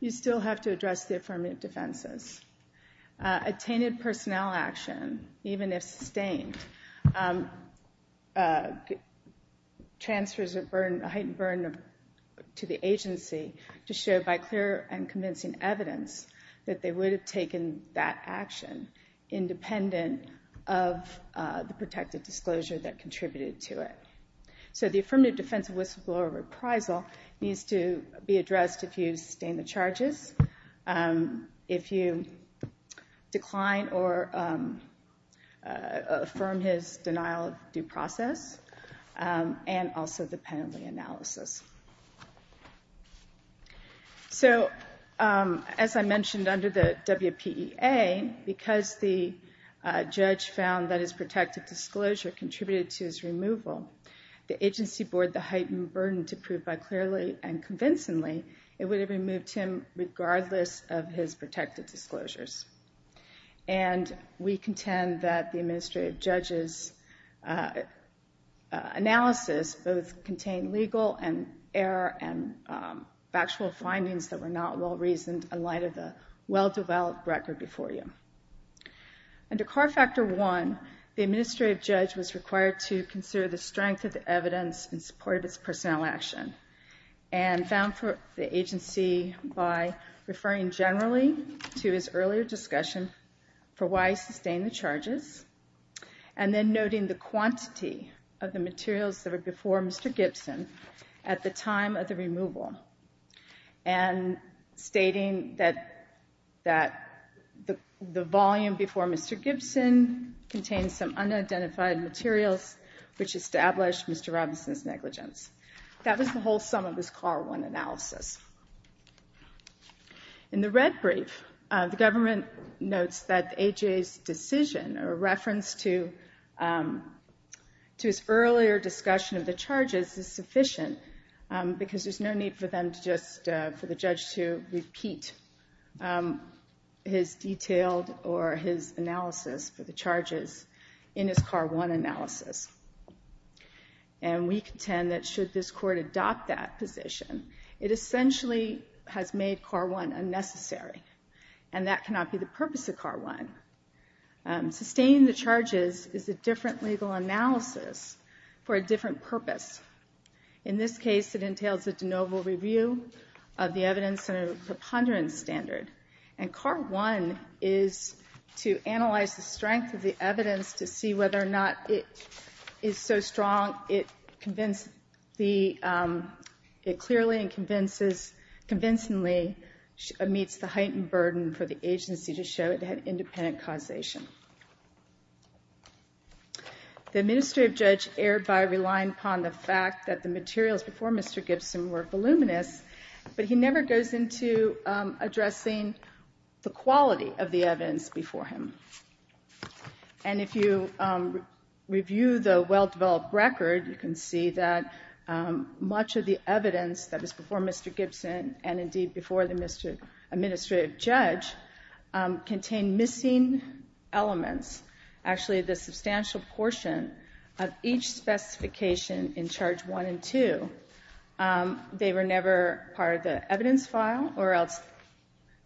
You still have to address the affirmative defenses. Attainted personnel action, even if sustained, transfers a heightened burden to the agency to show by clear and convincing evidence that they would have taken that action independent of the protected disclosure that contributed to it. So the affirmative defense of whistleblower reprisal needs to be addressed if you sustain the charges, if you decline or affirm his denial of due process, and also the penalty analysis. So as I mentioned under the WPEA, because the judge found that his protected disclosure contributed to his removal, the agency bore the heightened burden to prove by clearly and convincingly it would have removed him regardless of his protected disclosures. And we contend that the administrative judge's analysis both contained legal error and factual findings that were not well-reasoned in light of the well-developed record before you. Under CAR Factor I, the administrative judge was required to consider the strength of the evidence in support of his personnel action and found for the agency by referring generally to his earlier discussion for why he sustained the charges and then noting the quantity of the materials that were before Mr. Gibson at the time of the removal and stating that the volume before Mr. Gibson contained some unidentified materials which established Mr. Robinson's negligence. That was the whole sum of his CAR I analysis. In the red brief, the government notes that A.J.'s decision or reference to his earlier discussion of the charges is sufficient because there's no need for the judge to repeat his detailed or his analysis for the charges in his CAR I analysis. And we contend that should this Court adopt that position, it essentially has made CAR I unnecessary and that cannot be the purpose of CAR I. Sustaining the charges is a different legal analysis for a different purpose. In this case, it entails a de novo review of the evidence and a preponderance standard. And CAR I is to analyze the strength of the evidence to see whether or not it is so strong it clearly and convincingly meets the heightened burden for the agency to show it had independent causation. The administrative judge erred by relying upon the fact that the materials before Mr. Gibson were voluminous, but he never goes into addressing the quality of the evidence before him. And if you review the well-developed record, you can see that much of the evidence that was before Mr. Gibson and indeed before the administrative judge contained missing elements. Actually, the substantial portion of each specification in Charge I and II, they were never part of the evidence file or else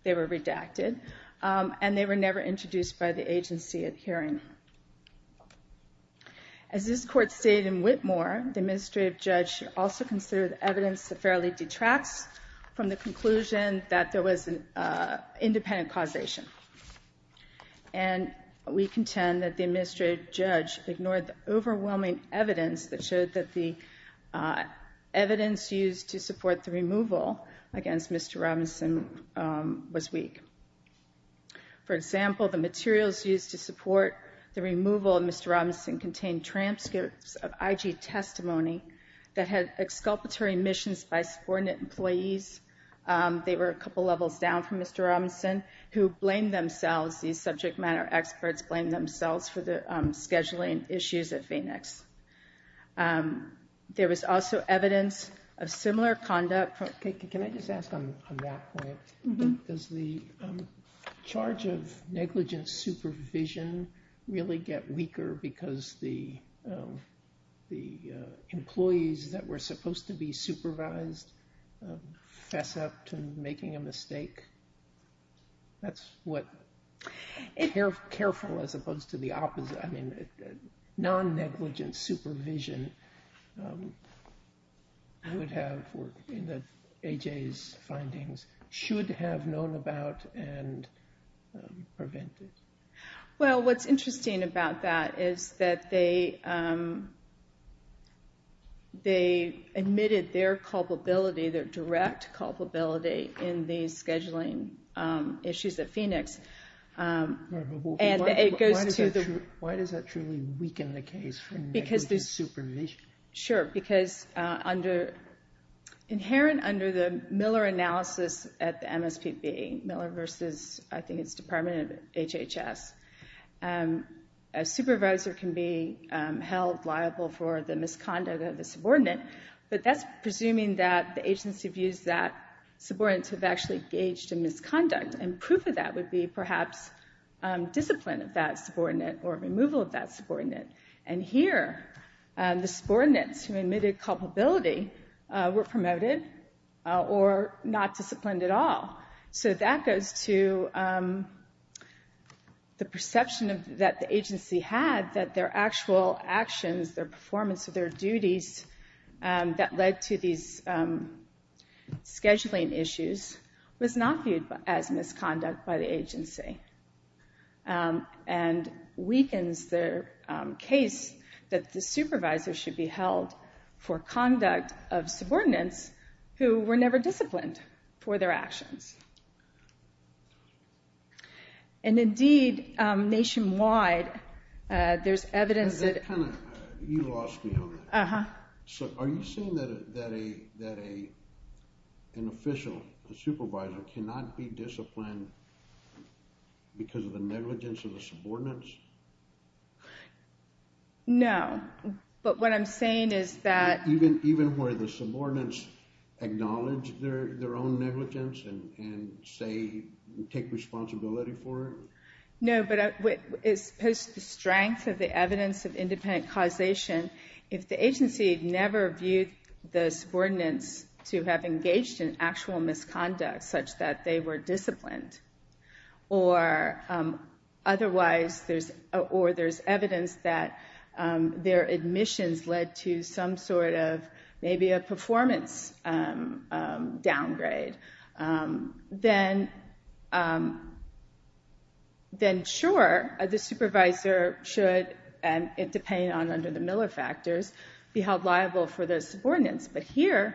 they were redacted. And they were never introduced by the agency at hearing. As this Court stated in Whitmore, the administrative judge should also consider the evidence that fairly detracts from the conclusion that there was an independent causation. And we contend that the administrative judge ignored the overwhelming evidence that showed that the evidence used to support the removal against Mr. Robinson was weak. For example, the materials used to support the removal of Mr. Robinson contained transcripts of IG testimony that had exculpatory missions by subordinate employees. They were a couple levels down from Mr. Robinson, who blamed themselves, these subject matter experts blamed themselves for the scheduling issues at Phoenix. There was also evidence of similar conduct. Can I just ask on that point, does the charge of negligent supervision really get weaker because the employees that were supposed to be supervised fess up to making a mistake? That's what careful as opposed to the opposite, I mean, non-negligent supervision would have, in the AJA's findings, should have known about and prevented. Well, what's interesting about that is that they admitted their culpability, their direct culpability in the scheduling issues at Phoenix. Why does that truly weaken the case for negligent supervision? Sure, because under, inherent under the Miller analysis at the MSPB, Miller versus I think it's Department of HHS, a supervisor can be held liable for the misconduct of the subordinate. But that's presuming that the agency views that subordinates have actually engaged in misconduct. And proof of that would be perhaps discipline of that subordinate or removal of that subordinate. And here, the subordinates who admitted culpability were promoted or not disciplined at all. So that goes to the perception that the agency had that their actual actions, their performance of their duties that led to these scheduling issues was not viewed as misconduct by the agency. And weakens the case that the supervisor should be held for conduct of subordinates who were never disciplined for their actions. And indeed, nationwide, there's evidence that... You lost me on that. Uh-huh. So are you saying that an official, a supervisor, cannot be disciplined because of the negligence of the subordinates? No, but what I'm saying is that... Even where the subordinates acknowledge their own negligence and say, take responsibility for it? No, but as opposed to the strength of the evidence of independent causation, if the agency never viewed the subordinates to have engaged in actual misconduct such that they were disciplined, or otherwise, or there's evidence that their admissions led to some sort of maybe a performance downgrade, then sure, the supervisor should, depending on under the Miller factors, be held liable for those subordinates. But here,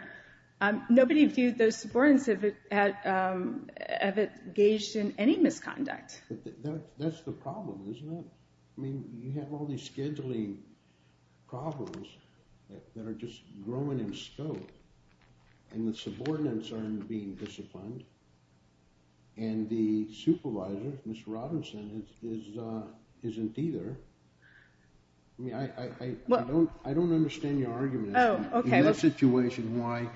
nobody viewed those subordinates to have engaged in any misconduct. That's the problem, isn't it? I mean, you have all these scheduling problems that are just growing in scope, and the subordinates aren't being disciplined, and the supervisor, Ms. Robinson, isn't either. I mean, I don't understand your argument. In this situation, why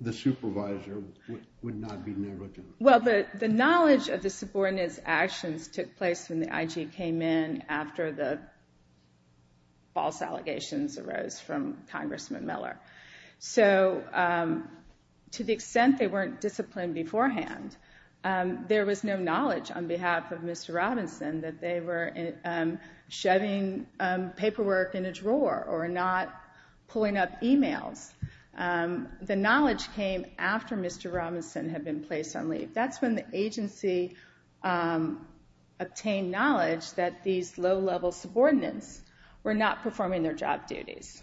the supervisor would not be negligent? Well, the knowledge of the subordinates' actions took place when the IG came in, after the false allegations arose from Congressman Miller. So to the extent they weren't disciplined beforehand, there was no knowledge on behalf of Mr. Robinson that they were shoving paperwork in a drawer or not pulling up emails. The knowledge came after Mr. Robinson had been placed on leave. That's when the agency obtained knowledge that these low-level subordinates were not performing their job duties.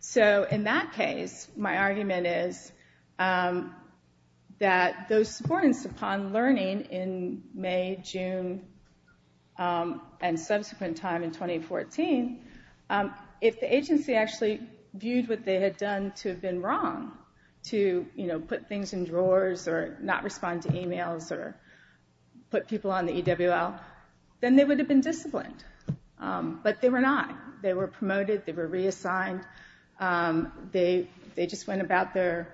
So in that case, my argument is that those subordinates, upon learning in May, June, and subsequent time in 2014, if the agency actually viewed what they had done to have been wrong, to put things in drawers or not respond to emails or put people on the EWL, then they would have been disciplined. But they were not. They were promoted. They were reassigned. They just went about their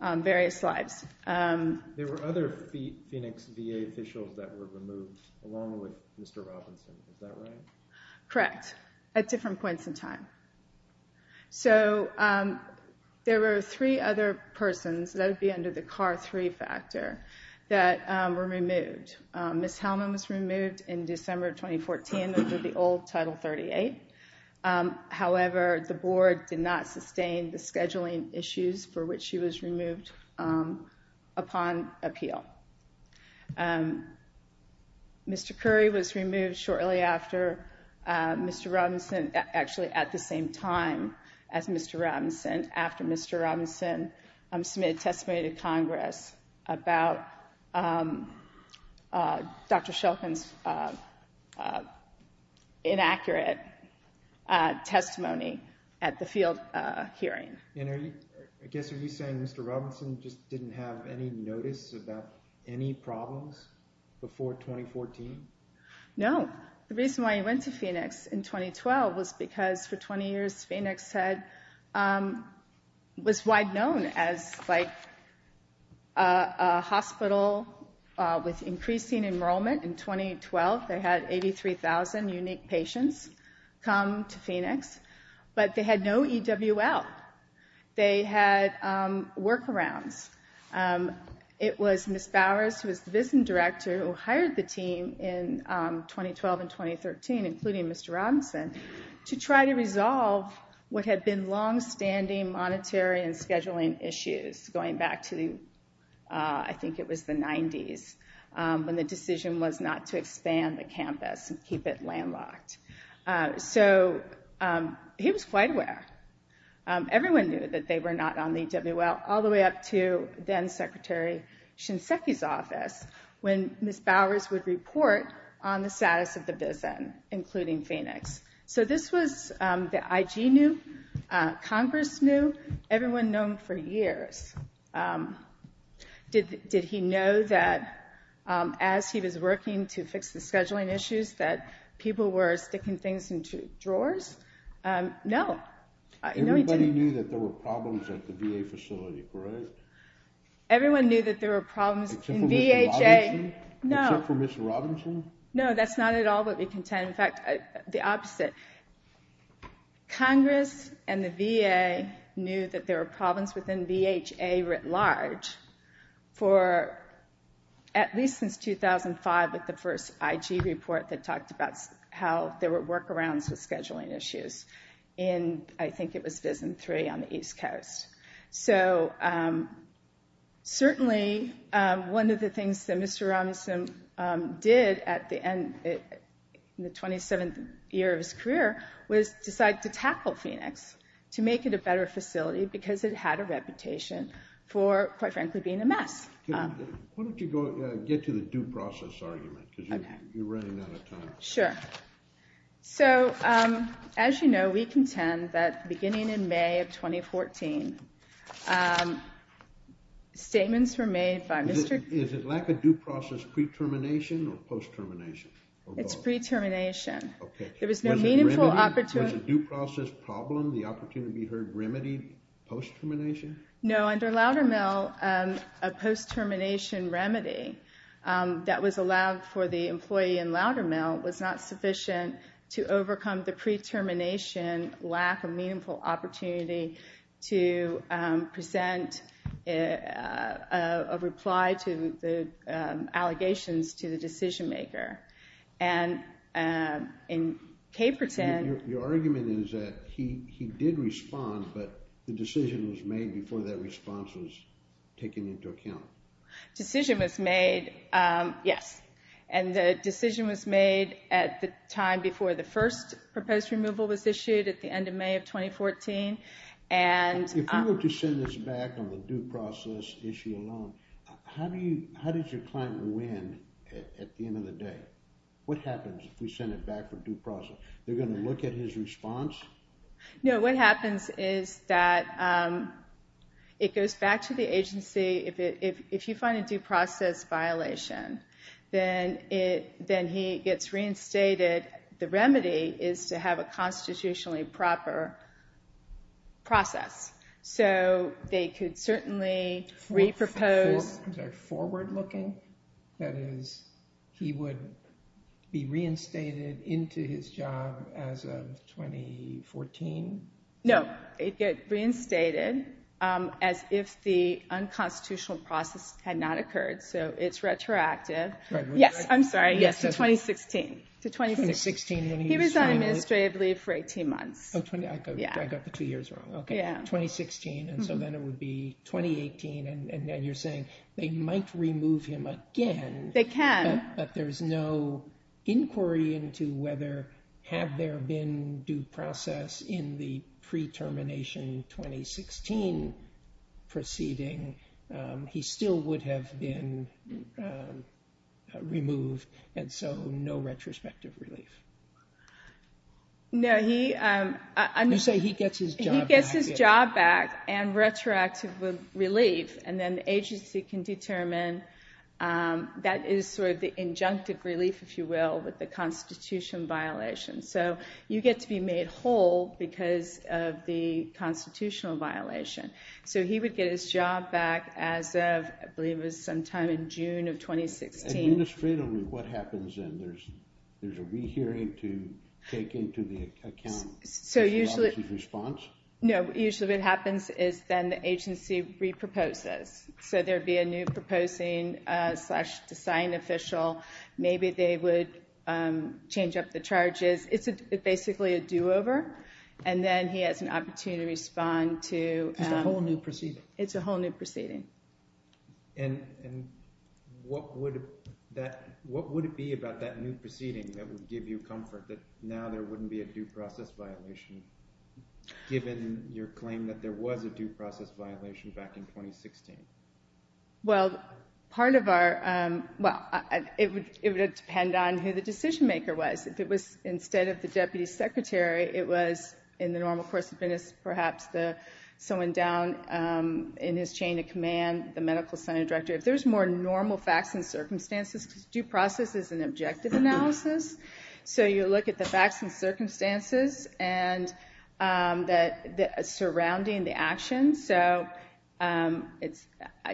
various lives. There were other Phoenix VA officials that were removed along with Mr. Robinson. Is that right? Correct, at different points in time. So there were three other persons that would be under the CAR-3 factor that were removed. Ms. Hellman was removed in December of 2014 under the old Title 38. However, the Board did not sustain the scheduling issues for which she was removed upon appeal. Mr. Curry was removed shortly after Mr. Robinson, actually at the same time as Mr. Robinson, after Mr. Robinson submitted testimony to Congress about Dr. Shulkin's inaccurate testimony at the field hearing. And I guess are you saying Mr. Robinson just didn't have any notice about any problems before 2014? No. The reason why he went to Phoenix in 2012 was because for 20 years Phoenix was wide known as a hospital with increasing enrollment. In 2012, they had 83,000 unique patients come to Phoenix, but they had no EWL. They had workarounds. It was Ms. Bowers, who was the visiting director, who hired the team in 2012 and 2013, including Mr. Robinson, to try to resolve what had been longstanding monetary and scheduling issues going back to, I think it was the 90s, when the decision was not to expand the campus and keep it landlocked. So he was quite aware. Everyone knew that they were not on the EWL, all the way up to then-Secretary Shinseki's office, when Ms. Bowers would report on the status of the VISN, including Phoenix. So this was the IG knew, Congress knew, everyone known for years. Did he know that as he was working to fix the scheduling issues that people were sticking things into drawers? No, no he didn't. Everybody knew that there were problems at the VA facility, correct? Everyone knew that there were problems in VHA. Except for Ms. Robinson? No. Except for Ms. Robinson? No, that's not at all what we contend. In fact, the opposite. Congress and the VA knew that there were problems within VHA writ large, at least since 2005 with the first IG report that talked about how there were workarounds with scheduling issues. I think it was VISN 3 on the East Coast. So certainly one of the things that Mr. Robinson did in the 27th year of his career was decide to tackle Phoenix, to make it a better facility, because it had a reputation for, quite frankly, being a mess. Why don't you get to the due process argument, because you're running out of time. Sure. So, as you know, we contend that beginning in May of 2014, statements were made by Mr. Is it lack of due process pre-termination or post-termination? It's pre-termination. Was the due process problem the opportunity to be remedied post-termination? No, under Loudermill, a post-termination remedy that was allowed for the employee in Loudermill was not sufficient to overcome the pre-termination lack of meaningful opportunity to present a reply to the allegations to the decision maker. And in Caperton... Your argument is that he did respond, but the decision was made before that response was taken into account. Decision was made, yes. And the decision was made at the time before the first proposed removal was issued, at the end of May of 2014. If we were to send this back on the due process issue alone, how did your client win at the end of the day? What happens if we send it back for due process? They're going to look at his response? No, what happens is that it goes back to the agency. If you find a due process violation, then he gets reinstated. The remedy is to have a constitutionally proper process. So they could certainly re-propose... Is that forward-looking? That is, he would be reinstated into his job as of 2014? No, he'd get reinstated as if the unconstitutional process had not occurred, so it's retroactive. Yes, I'm sorry, yes, to 2016. He was on administrative leave for 18 months. Oh, I got the two years wrong. Okay, 2016, and so then it would be 2018, and then you're saying they might remove him again... They can. But there's no inquiry into whether, had there been due process in the pre-termination 2016 proceeding, he still would have been removed, and so no retrospective relief. No, he... You say he gets his job back. And retroactive relief, and then the agency can determine that is sort of the injunctive relief, if you will, with the constitution violation. So you get to be made whole because of the constitutional violation. So he would get his job back as of, I believe it was sometime in June of 2016. Administrative leave, what happens then? There's a rehearing to take into account his response? No, usually what happens is then the agency re-proposes. So there would be a new proposing slash design official. Maybe they would change up the charges. It's basically a do-over, and then he has an opportunity to respond to... It's a whole new proceeding. It's a whole new proceeding. And what would it be about that new proceeding that would give you comfort, that now there wouldn't be a due process violation, given your claim that there was a due process violation back in 2016? Well, part of our... Well, it would depend on who the decision-maker was. If it was instead of the deputy secretary, it was, in the normal course of business, perhaps someone down in his chain of command, the medical center director. If there's more normal facts and circumstances, due process is an objective analysis. So you look at the facts and circumstances surrounding the actions. So I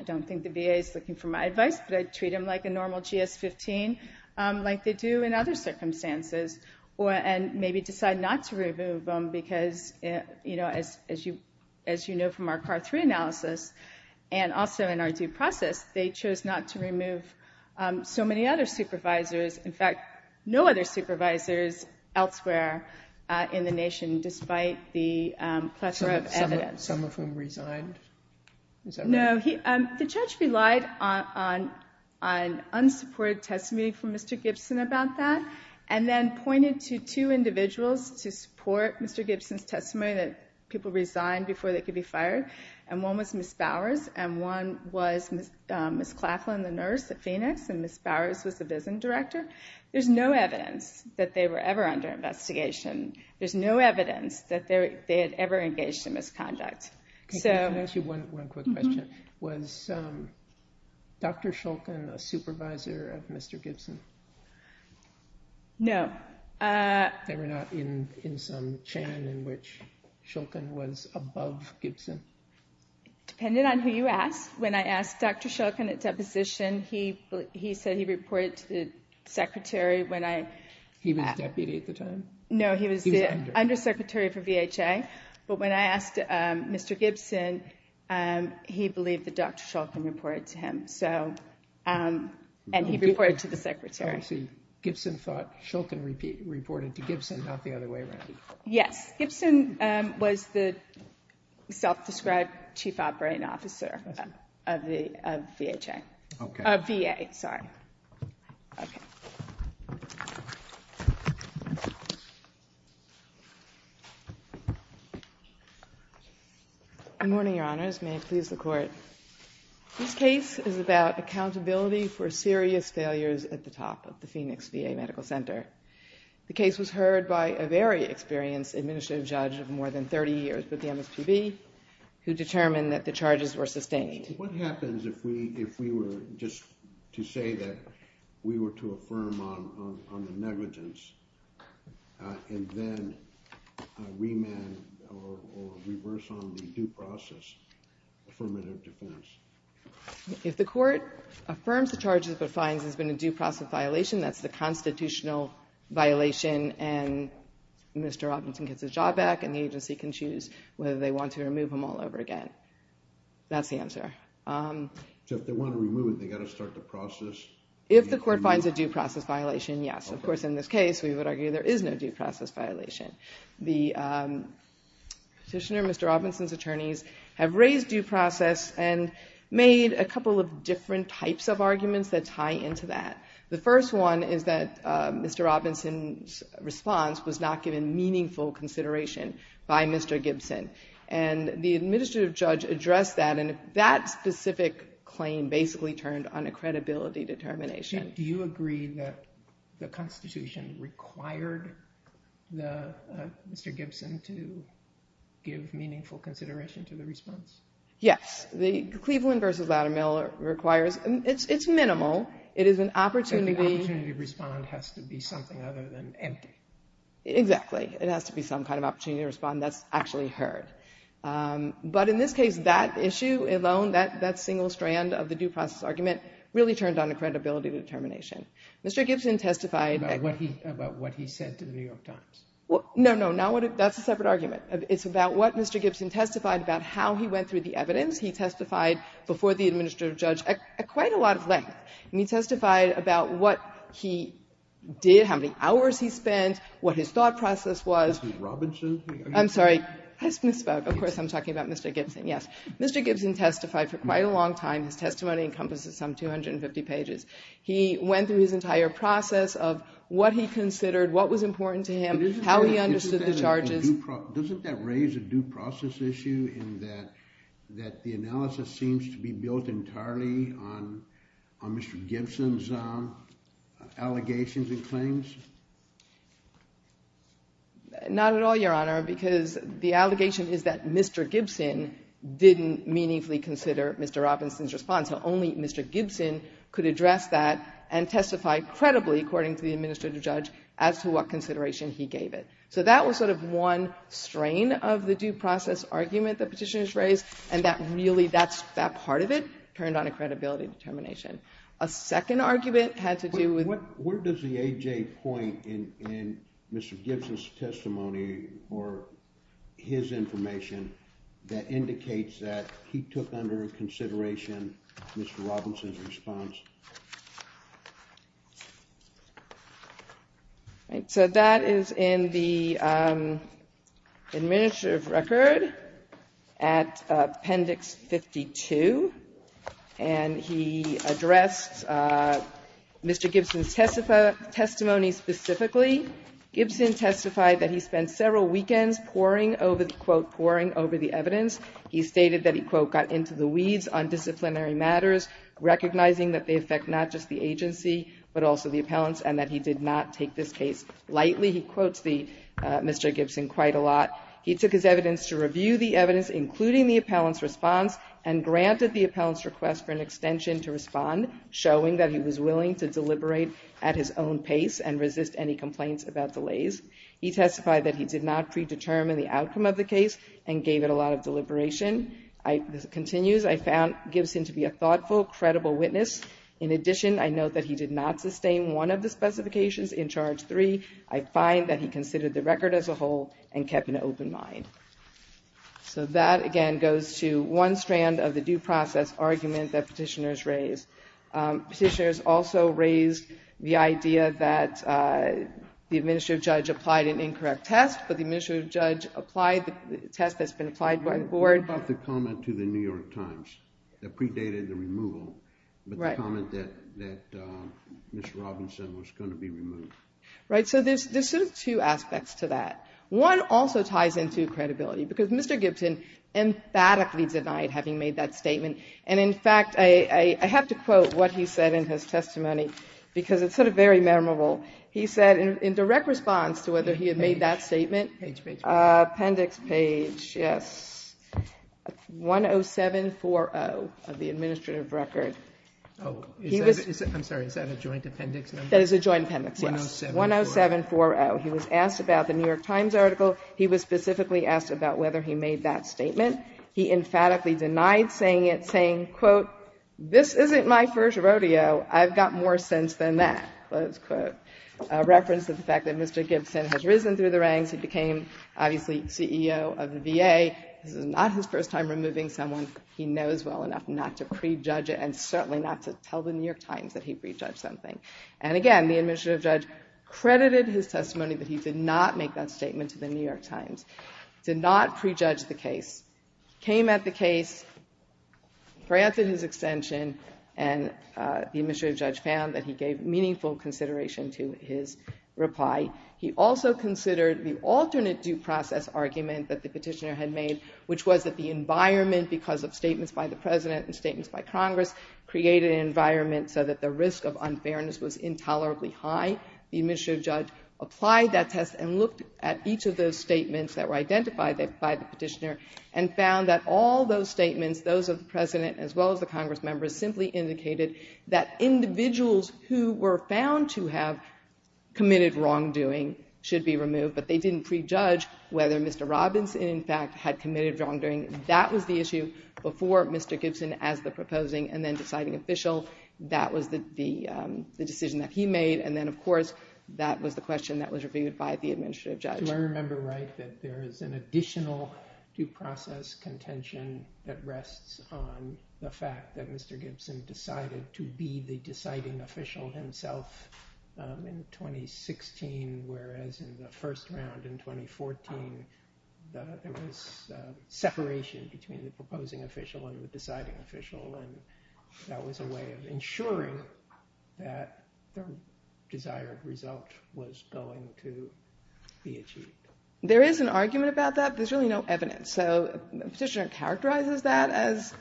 don't think the VA is looking for my advice, but I'd treat them like a normal GS-15, like they do in other circumstances, and maybe decide not to remove them because, as you know from our CAR-3 analysis, and also in our due process, they chose not to remove so many other supervisors. In fact, no other supervisors elsewhere in the nation, despite the plethora of evidence. Some of whom resigned? No. The judge relied on unsupported testimony from Mr. Gibson about that and then pointed to two individuals to support Mr. Gibson's testimony that people resigned before they could be fired. And one was Ms. Bowers, and one was Ms. Claflin, the nurse at Phoenix, and Ms. Bowers was the visiting director. There's no evidence that they were ever under investigation. There's no evidence that they had ever engaged in misconduct. Can I ask you one quick question? Was Dr. Shulkin a supervisor of Mr. Gibson? No. They were not in some chain in which Shulkin was above Gibson? Dependent on who you ask. When I asked Dr. Shulkin at deposition, he said he reported to the secretary. He was deputy at the time? No, he was the undersecretary for VHA. But when I asked Mr. Gibson, he believed that Dr. Shulkin reported to him, and he reported to the secretary. So Gibson thought Shulkin reported to Gibson, not the other way around. Yes. Gibson was the self-described chief operating officer of VHA. Okay. VA, sorry. Okay. Good morning, Your Honors. May it please the Court. This case is about accountability for serious failures at the top of the Phoenix VA Medical Center. The case was heard by a very experienced administrative judge of more than 30 years with the MSPB who determined that the charges were sustained. What happens if we were just to say that we were to affirm on the negligence and then remand or reverse on the due process affirmative defense? If the Court affirms the charges but finds there's been a due process violation, that's the constitutional violation and Mr. Robinson gets his job back and the agency can choose whether they want to remove him all over again. That's the answer. So if they want to remove him, they've got to start the process? If the Court finds a due process violation, yes. Of course, in this case, we would argue there is no due process violation. The petitioner, Mr. Robinson's attorneys, have raised due process and made a couple of different types of arguments that tie into that. The first one is that Mr. Robinson's response was not given meaningful consideration by Mr. Gibson and the administrative judge addressed that and that specific claim basically turned on a credibility determination. Do you agree that the Constitution required Mr. Gibson to give meaningful consideration to the response? Yes. Cleveland v. Loudermill requires, it's minimal. It is an opportunity. So the opportunity to respond has to be something other than empty. Exactly. It has to be some kind of opportunity to respond that's actually heard. But in this case, that issue alone, that single strand of the due process argument, really turned on a credibility determination. Mr. Gibson testified. About what he said to the New York Times. No, no, that's a separate argument. It's about what Mr. Gibson testified about how he went through the evidence. He testified before the administrative judge at quite a lot of length. He testified about what he did, how many hours he spent, what his thought process was. Mr. Robinson? I'm sorry. I misspoke. Of course I'm talking about Mr. Gibson. Yes. Mr. Gibson testified for quite a long time. His testimony encompasses some 250 pages. He went through his entire process of what he considered, what was important to him, how he understood the charges. Doesn't that raise a due process issue in that the analysis seems to be built entirely on Mr. Gibson's allegations and claims? Not at all, Your Honor, because the allegation is that Mr. Gibson didn't meaningfully consider Mr. Robinson's response. Only Mr. Gibson could address that and testify credibly, according to the administrative judge, as to what consideration he gave it. So that was sort of one strain of the due process argument that Petitioners raised, and that really, that part of it turned on a credibility determination. A second argument had to do with Where does the A.J. point in Mr. Gibson's testimony or his information that indicates that he took under consideration Mr. Robinson's response? All right. So that is in the administrative record at Appendix 52. And he addressed Mr. Gibson's testimony specifically. Gibson testified that he spent several weekends pouring over the, quote, pouring over the evidence. He stated that he, quote, on disciplinary matters, recognizing that they affect not just the agency, but also the appellants, and that he did not take this case lightly. He quotes Mr. Gibson quite a lot. He took his evidence to review the evidence, including the appellant's response, and granted the appellant's request for an extension to respond, showing that he was willing to deliberate at his own pace and resist any complaints about delays. He testified that he did not predetermine the outcome of the case and gave it a lot of deliberation. This continues. I found Gibson to be a thoughtful, credible witness. In addition, I note that he did not sustain one of the specifications in Charge 3. I find that he considered the record as a whole and kept an open mind. So that, again, goes to one strand of the due process argument that Petitioners raised. Petitioners also raised the idea that the administrative judge applied an incorrect test, but the administrative judge applied the test that's been applied by the board. You brought the comment to the New York Times that predated the removal, but the comment that Ms. Robinson was going to be removed. Right. So there's sort of two aspects to that. One also ties into credibility, because Mr. Gibson emphatically denied having made that statement. And, in fact, I have to quote what he said in his testimony, because it's sort of very memorable. He said in direct response to whether he had made that statement. Page, page, page. Appendix page, yes. 10740 of the administrative record. Oh, I'm sorry. Is that a joint appendix number? That is a joint appendix, yes. 10740. 10740. He was asked about the New York Times article. He was specifically asked about whether he made that statement. He emphatically denied saying it, saying, quote, this isn't my first rodeo. I've got more sense than that, close quote. A reference to the fact that Mr. Gibson has risen through the ranks. He became, obviously, CEO of the VA. This is not his first time removing someone he knows well enough not to prejudge and certainly not to tell the New York Times that he prejudged something. And, again, the administrative judge credited his testimony that he did not make that statement to the New York Times, did not prejudge the case, came at the case, granted his extension, and the administrative judge found that he gave meaningful consideration to his reply. He also considered the alternate due process argument that the petitioner had made, which was that the environment, because of statements by the President and statements by Congress, created an environment so that the risk of unfairness was intolerably high. The administrative judge applied that test and looked at each of those statements that were identified by the petitioner and found that all those statements, those of the President as well as the Congress members, simply indicated that individuals who were found to have committed wrongdoing should be removed, but they didn't prejudge whether Mr. Robinson, in fact, had committed wrongdoing. That was the issue before Mr. Gibson as the proposing and then deciding official. That was the decision that he made, and then, of course, that was the question that was reviewed by the administrative judge. Do I remember right that there is an additional due process contention that rests on the fact that Mr. Gibson decided to be the deciding official himself in 2016, whereas in the first round in 2014, there was separation between the proposing official and the deciding official, and that was a way of ensuring that the desired result was going to be achieved? There is an argument about that. There's really no evidence, so the petitioner characterizes that as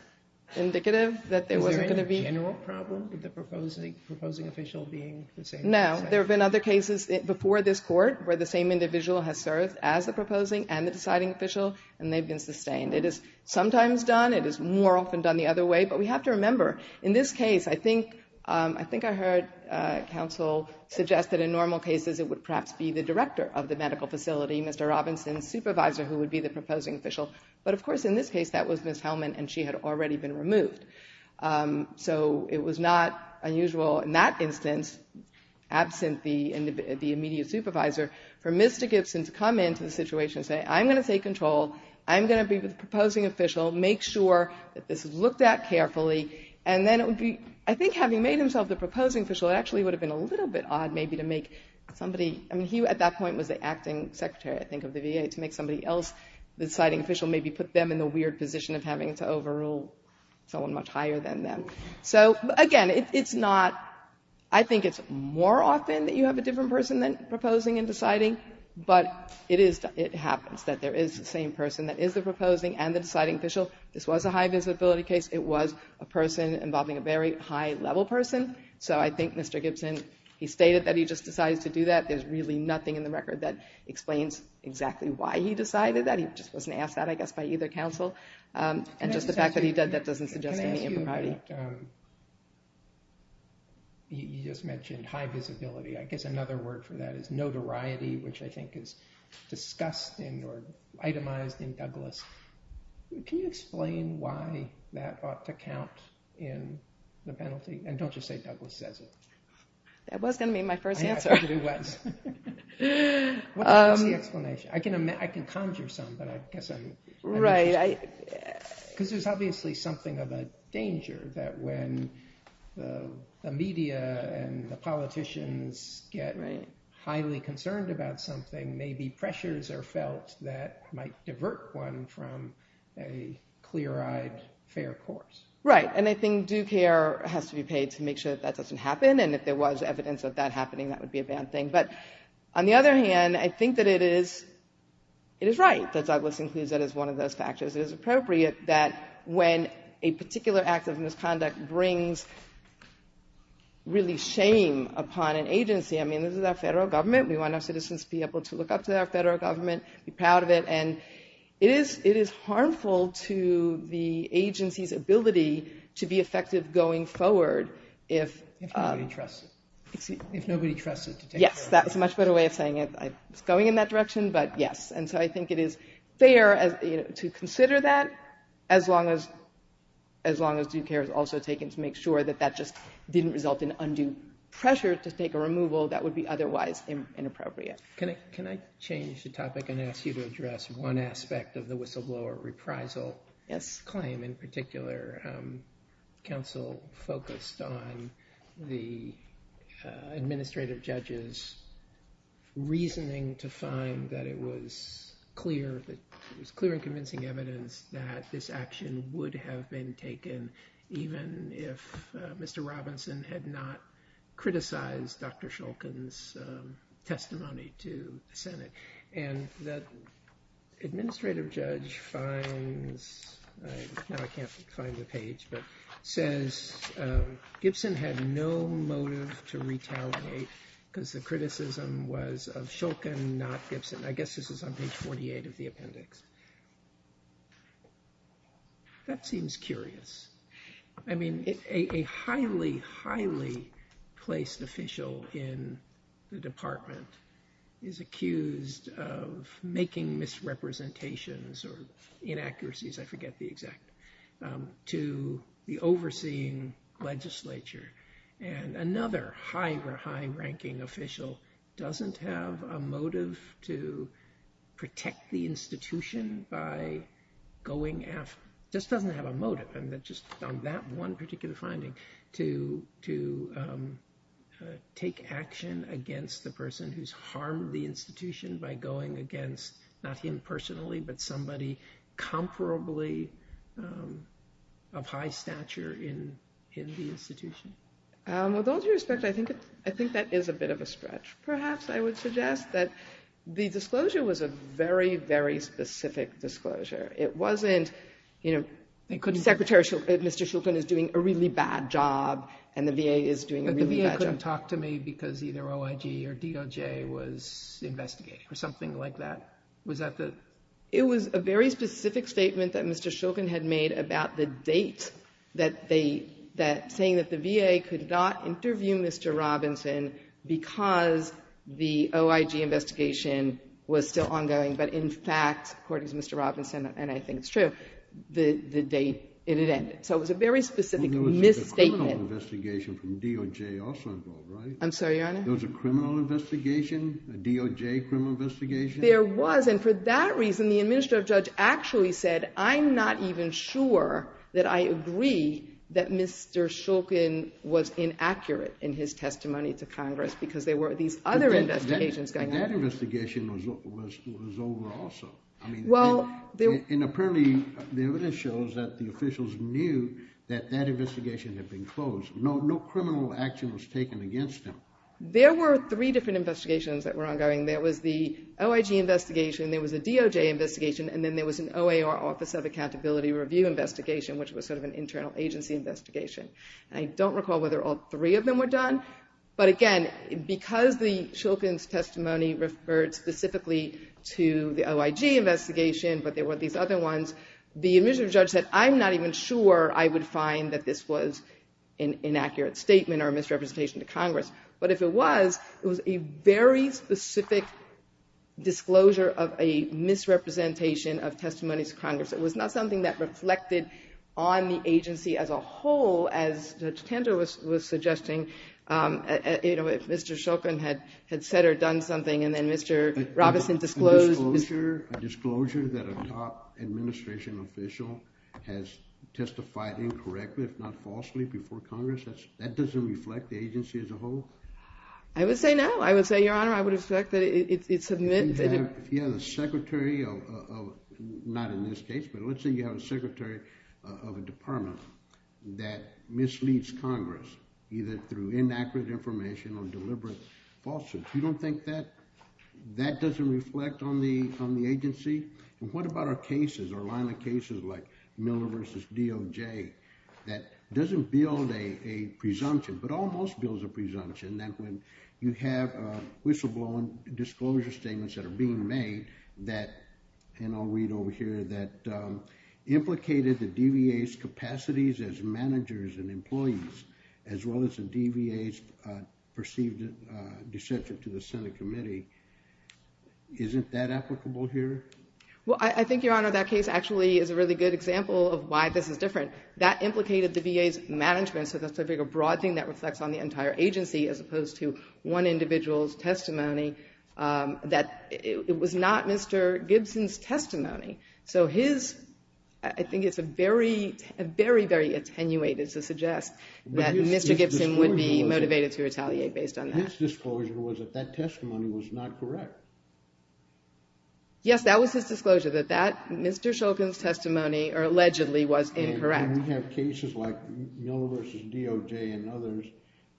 indicative that there wasn't going to be. Is there any general problem with the proposing official being the same? No. There have been other cases before this Court where the same individual has served as the proposing and the deciding official, and they've been sustained. It is more often done the other way, but we have to remember, in this case, I think I heard counsel suggest that in normal cases it would perhaps be the director of the medical facility, Mr. Robinson's supervisor, who would be the proposing official. But, of course, in this case, that was Ms. Hellman, and she had already been removed. So it was not unusual in that instance, absent the immediate supervisor, for Ms. Gibson to come into the situation and say, I'm going to take control, I'm going to be the proposing official, make sure that this is looked at carefully, and then it would be, I think having made himself the proposing official, it actually would have been a little bit odd maybe to make somebody, I mean, he at that point was the acting secretary, I think, of the VA, to make somebody else the deciding official, maybe put them in the weird position of having to overrule someone much higher than them. So, again, it's not, I think it's more often that you have a different person than proposing and deciding, but it happens that there is the same person that is the proposing and the deciding official. This was a high visibility case. It was a person involving a very high level person. So I think Mr. Gibson, he stated that he just decided to do that. There's really nothing in the record that explains exactly why he decided that. He just wasn't asked that, I guess, by either counsel. And just the fact that he did that doesn't suggest any impropriety. Can I ask you about, you just mentioned high visibility. I guess another word for that is notoriety, which I think is discussed or itemized in Douglass. Can you explain why that ought to count in the penalty? And don't just say Douglass says it. That was going to be my first answer. It was. What was the explanation? I can conjure some, but I guess I'm not interested. Right. Because there's obviously something of a danger that when the media and the politicians get highly concerned about something, maybe pressures are felt that might divert one from a clear-eyed, fair course. Right. And I think due care has to be paid to make sure that that doesn't happen. And if there was evidence of that happening, that would be a bad thing. But on the other hand, I think that it is right that Douglass includes that as one of those factors. It is appropriate that when a particular act of misconduct brings really shame upon an agency, I mean, this is our federal government. We want our citizens to be able to look up to our federal government, be proud of it. And it is harmful to the agency's ability to be effective going forward. If nobody trusts it. Yes, that's a much better way of saying it. It's going in that direction, but yes. And so I think it is fair to consider that, as long as due care is also taken to make sure that that just didn't result in undue pressure to take a removal that would be otherwise inappropriate. Can I change the topic and ask you to address one aspect of the whistleblower reprisal claim? In particular, counsel focused on the administrative judge's reasoning to find that it was clear and convincing evidence that this action would have been taken even if Mr. Robinson had not criticized Dr. Shulkin's testimony to the Senate. And the administrative judge finds, now I can't find the page, but says Gibson had no motive to retaliate because the criticism was of Shulkin, not Gibson. I guess this is on page 48 of the appendix. That seems curious. I mean, a highly, highly placed official in the department is accused of making misrepresentations or inaccuracies, I forget the exact, to the overseeing legislature. And another high-ranking official doesn't have a motive to protect the institution by going after, just doesn't have a motive on that one particular finding, to take action against the person who's harmed the institution by going against, not him personally, but somebody comparably of high stature in the institution. With all due respect, I think that is a bit of a stretch. Perhaps I would suggest that the disclosure was a very, very specific disclosure. It wasn't, you know, Secretary Shulkin, Mr. Shulkin is doing a really bad job, and the VA is doing a really bad job. He didn't talk to me because either OIG or DOJ was investigating or something like that. Was that the? It was a very specific statement that Mr. Shulkin had made about the date that they, that saying that the VA could not interview Mr. Robinson because the OIG investigation was still ongoing, but in fact, according to Mr. Robinson, and I think it's true, the date it had ended. So it was a very specific misstatement. There was a criminal investigation from DOJ also involved, right? I'm sorry, Your Honor? There was a criminal investigation, a DOJ criminal investigation? There was, and for that reason, the administrative judge actually said, I'm not even sure that I agree that Mr. Shulkin was inaccurate in his testimony to Congress because there were these other investigations going on. But that investigation was over also. And apparently the evidence shows that the officials knew that that investigation had been closed. No criminal action was taken against him. There were three different investigations that were ongoing. There was the OIG investigation, there was a DOJ investigation, and then there was an OAR, Office of Accountability Review investigation, which was sort of an internal agency investigation. I don't recall whether all three of them were done, but again, because the Shulkin's testimony referred specifically to the OIG investigation, but there were these other ones, the administrative judge said, I'm not even sure I would find that this was an inaccurate statement or a misrepresentation to Congress. But if it was, it was a very specific disclosure of a misrepresentation of testimonies to Congress. It was not something that reflected on the agency as a whole, as Judge Tender was suggesting, you know, if Mr. Shulkin had said or done something and then Mr. Robinson disclosed. A disclosure that a top administration official has testified incorrectly, if not falsely, before Congress, that doesn't reflect the agency as a whole? I would say no. I would say, Your Honor, I would expect that it's admitted. If you have a secretary of, not in this case, but let's say you have a secretary of a department that misleads Congress, either through inaccurate information or deliberate falsehoods, you don't think that that doesn't reflect on the agency? And what about our cases, our line of cases like Miller v. DOJ, that doesn't build a presumption but almost builds a presumption that when you have whistleblowing disclosure statements that are being made, that, and I'll read over here, that implicated the DVA's capacities as managers and employees, as well as the DVA's perceived dissension to the Senate committee. Isn't that applicable here? Well, I think, Your Honor, that case actually is a really good example of why this is different. That implicated the VA's management, so that's a big broad thing that reflects on the entire agency as opposed to one individual's testimony. That it was not Mr. Gibson's testimony. So his, I think it's a very, very, very attenuated to suggest that Mr. Gibson would be motivated to retaliate based on that. His disclosure was that that testimony was not correct. Yes, that was his disclosure, that Mr. Shulkin's testimony allegedly was incorrect. And we have cases like Miller v. DOJ and others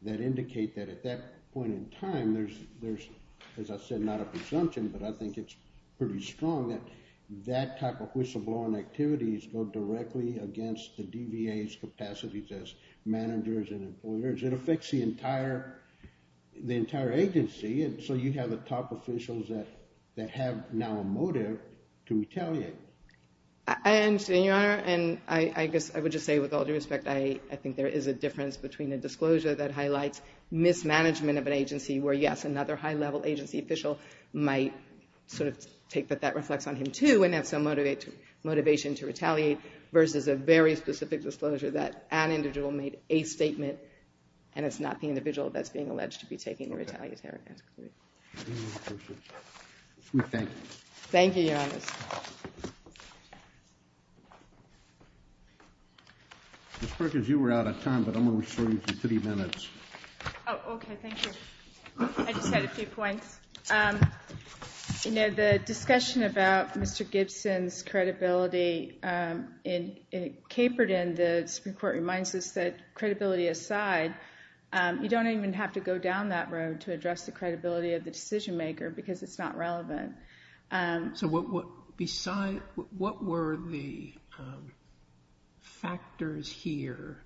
that indicate that at that point in time, there's, as I said, not a presumption, but I think it's pretty strong that that type of whistleblowing activities go directly against the DVA's capacities as managers and employers. It affects the entire agency, and so you have the top officials that have now a motive to retaliate. I understand, Your Honor, and I guess I would just say with all due respect, I think there is a difference between a disclosure that highlights mismanagement of an agency where, yes, another high-level agency official might sort of take that that reflects on him too and have some motivation to retaliate, versus a very specific disclosure that an individual made a statement and it's not the individual that's being alleged to be taking the retaliatory action. Thank you. Thank you, Your Honor. Thank you, Justice. Ms. Perkins, you were out of time, but I'm going to restore you to 30 minutes. Oh, okay. Thank you. I just had a few points. You know, the discussion about Mr. Gibson's credibility in Caperton, the Supreme Court reminds us that credibility aside, you don't even have to go down that road to address the credibility of the decision maker because it's not relevant. So what were the factors here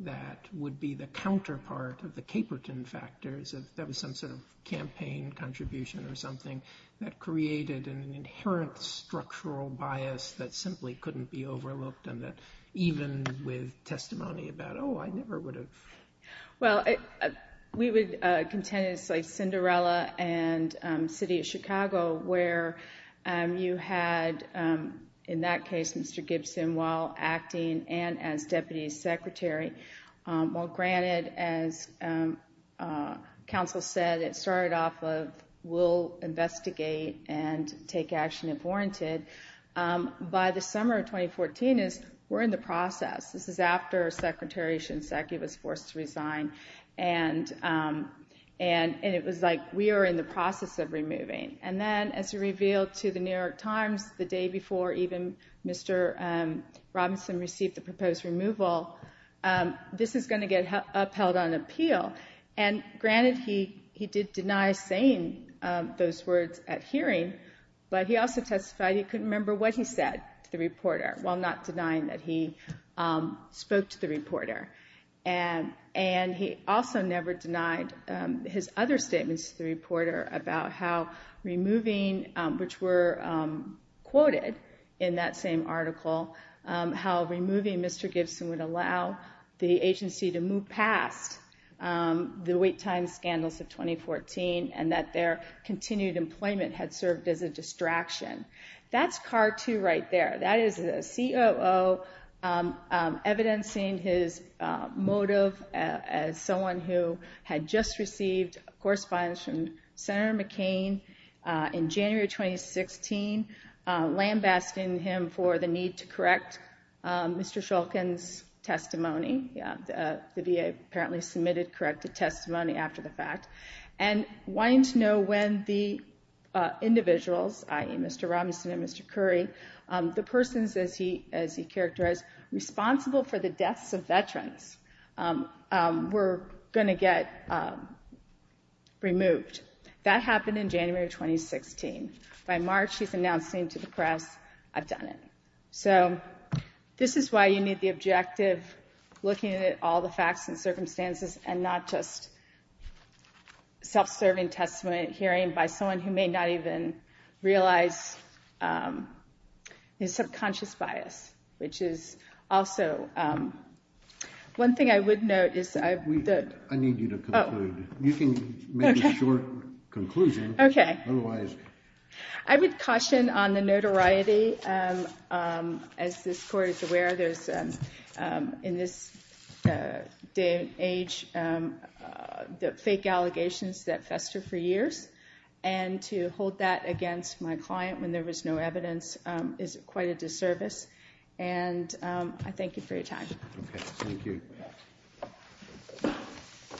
that would be the counterpart of the Caperton factors, if that was some sort of campaign contribution or something, that created an inherent structural bias that simply couldn't be overlooked and that even with testimony about, oh, I never would have. Well, we would contend it's like Cinderella and City of Chicago, where you had in that case Mr. Gibson while acting and as Deputy Secretary. Well, granted, as counsel said, it started off with we'll investigate and take action if warranted. By the summer of 2014, we're in the process. This is after Secretary Shinseki was forced to resign, and it was like we are in the process of removing. And then as we revealed to The New York Times the day before even Mr. Robinson received the proposed removal, this is going to get upheld on appeal. And granted, he did deny saying those words at hearing, but he also testified he couldn't remember what he said to the reporter while not denying that he spoke to the reporter. And he also never denied his other statements to the reporter about how removing, which were quoted in that same article, how removing Mr. Gibson would allow the agency to move past the wait time scandals of 2014 and that their continued employment had served as a distraction. That's CAR-2 right there. That is a COO evidencing his motive as someone who had just received correspondence from Senator McCain in January 2016, lambasting him for the need to correct Mr. Shulkin's testimony. The VA apparently submitted corrected testimony after the fact and wanting to know when the individuals, i.e., Mr. Robinson and Mr. Curry, the persons, as he characterized, responsible for the deaths of veterans, were going to get removed. That happened in January 2016. By March, he's announcing to the press, I've done it. So this is why you need the objective looking at all the facts and circumstances and not just self-serving testimony, hearing by someone who may not even realize his subconscious bias, which is also one thing I would note. I need you to conclude. You can make a short conclusion. Okay. Otherwise. I would caution on the notoriety. As this Court is aware, in this day and age, the fake allegations that fester for years, and to hold that against my client when there was no evidence is quite a disservice. And I thank you for your time. Okay. Thank you.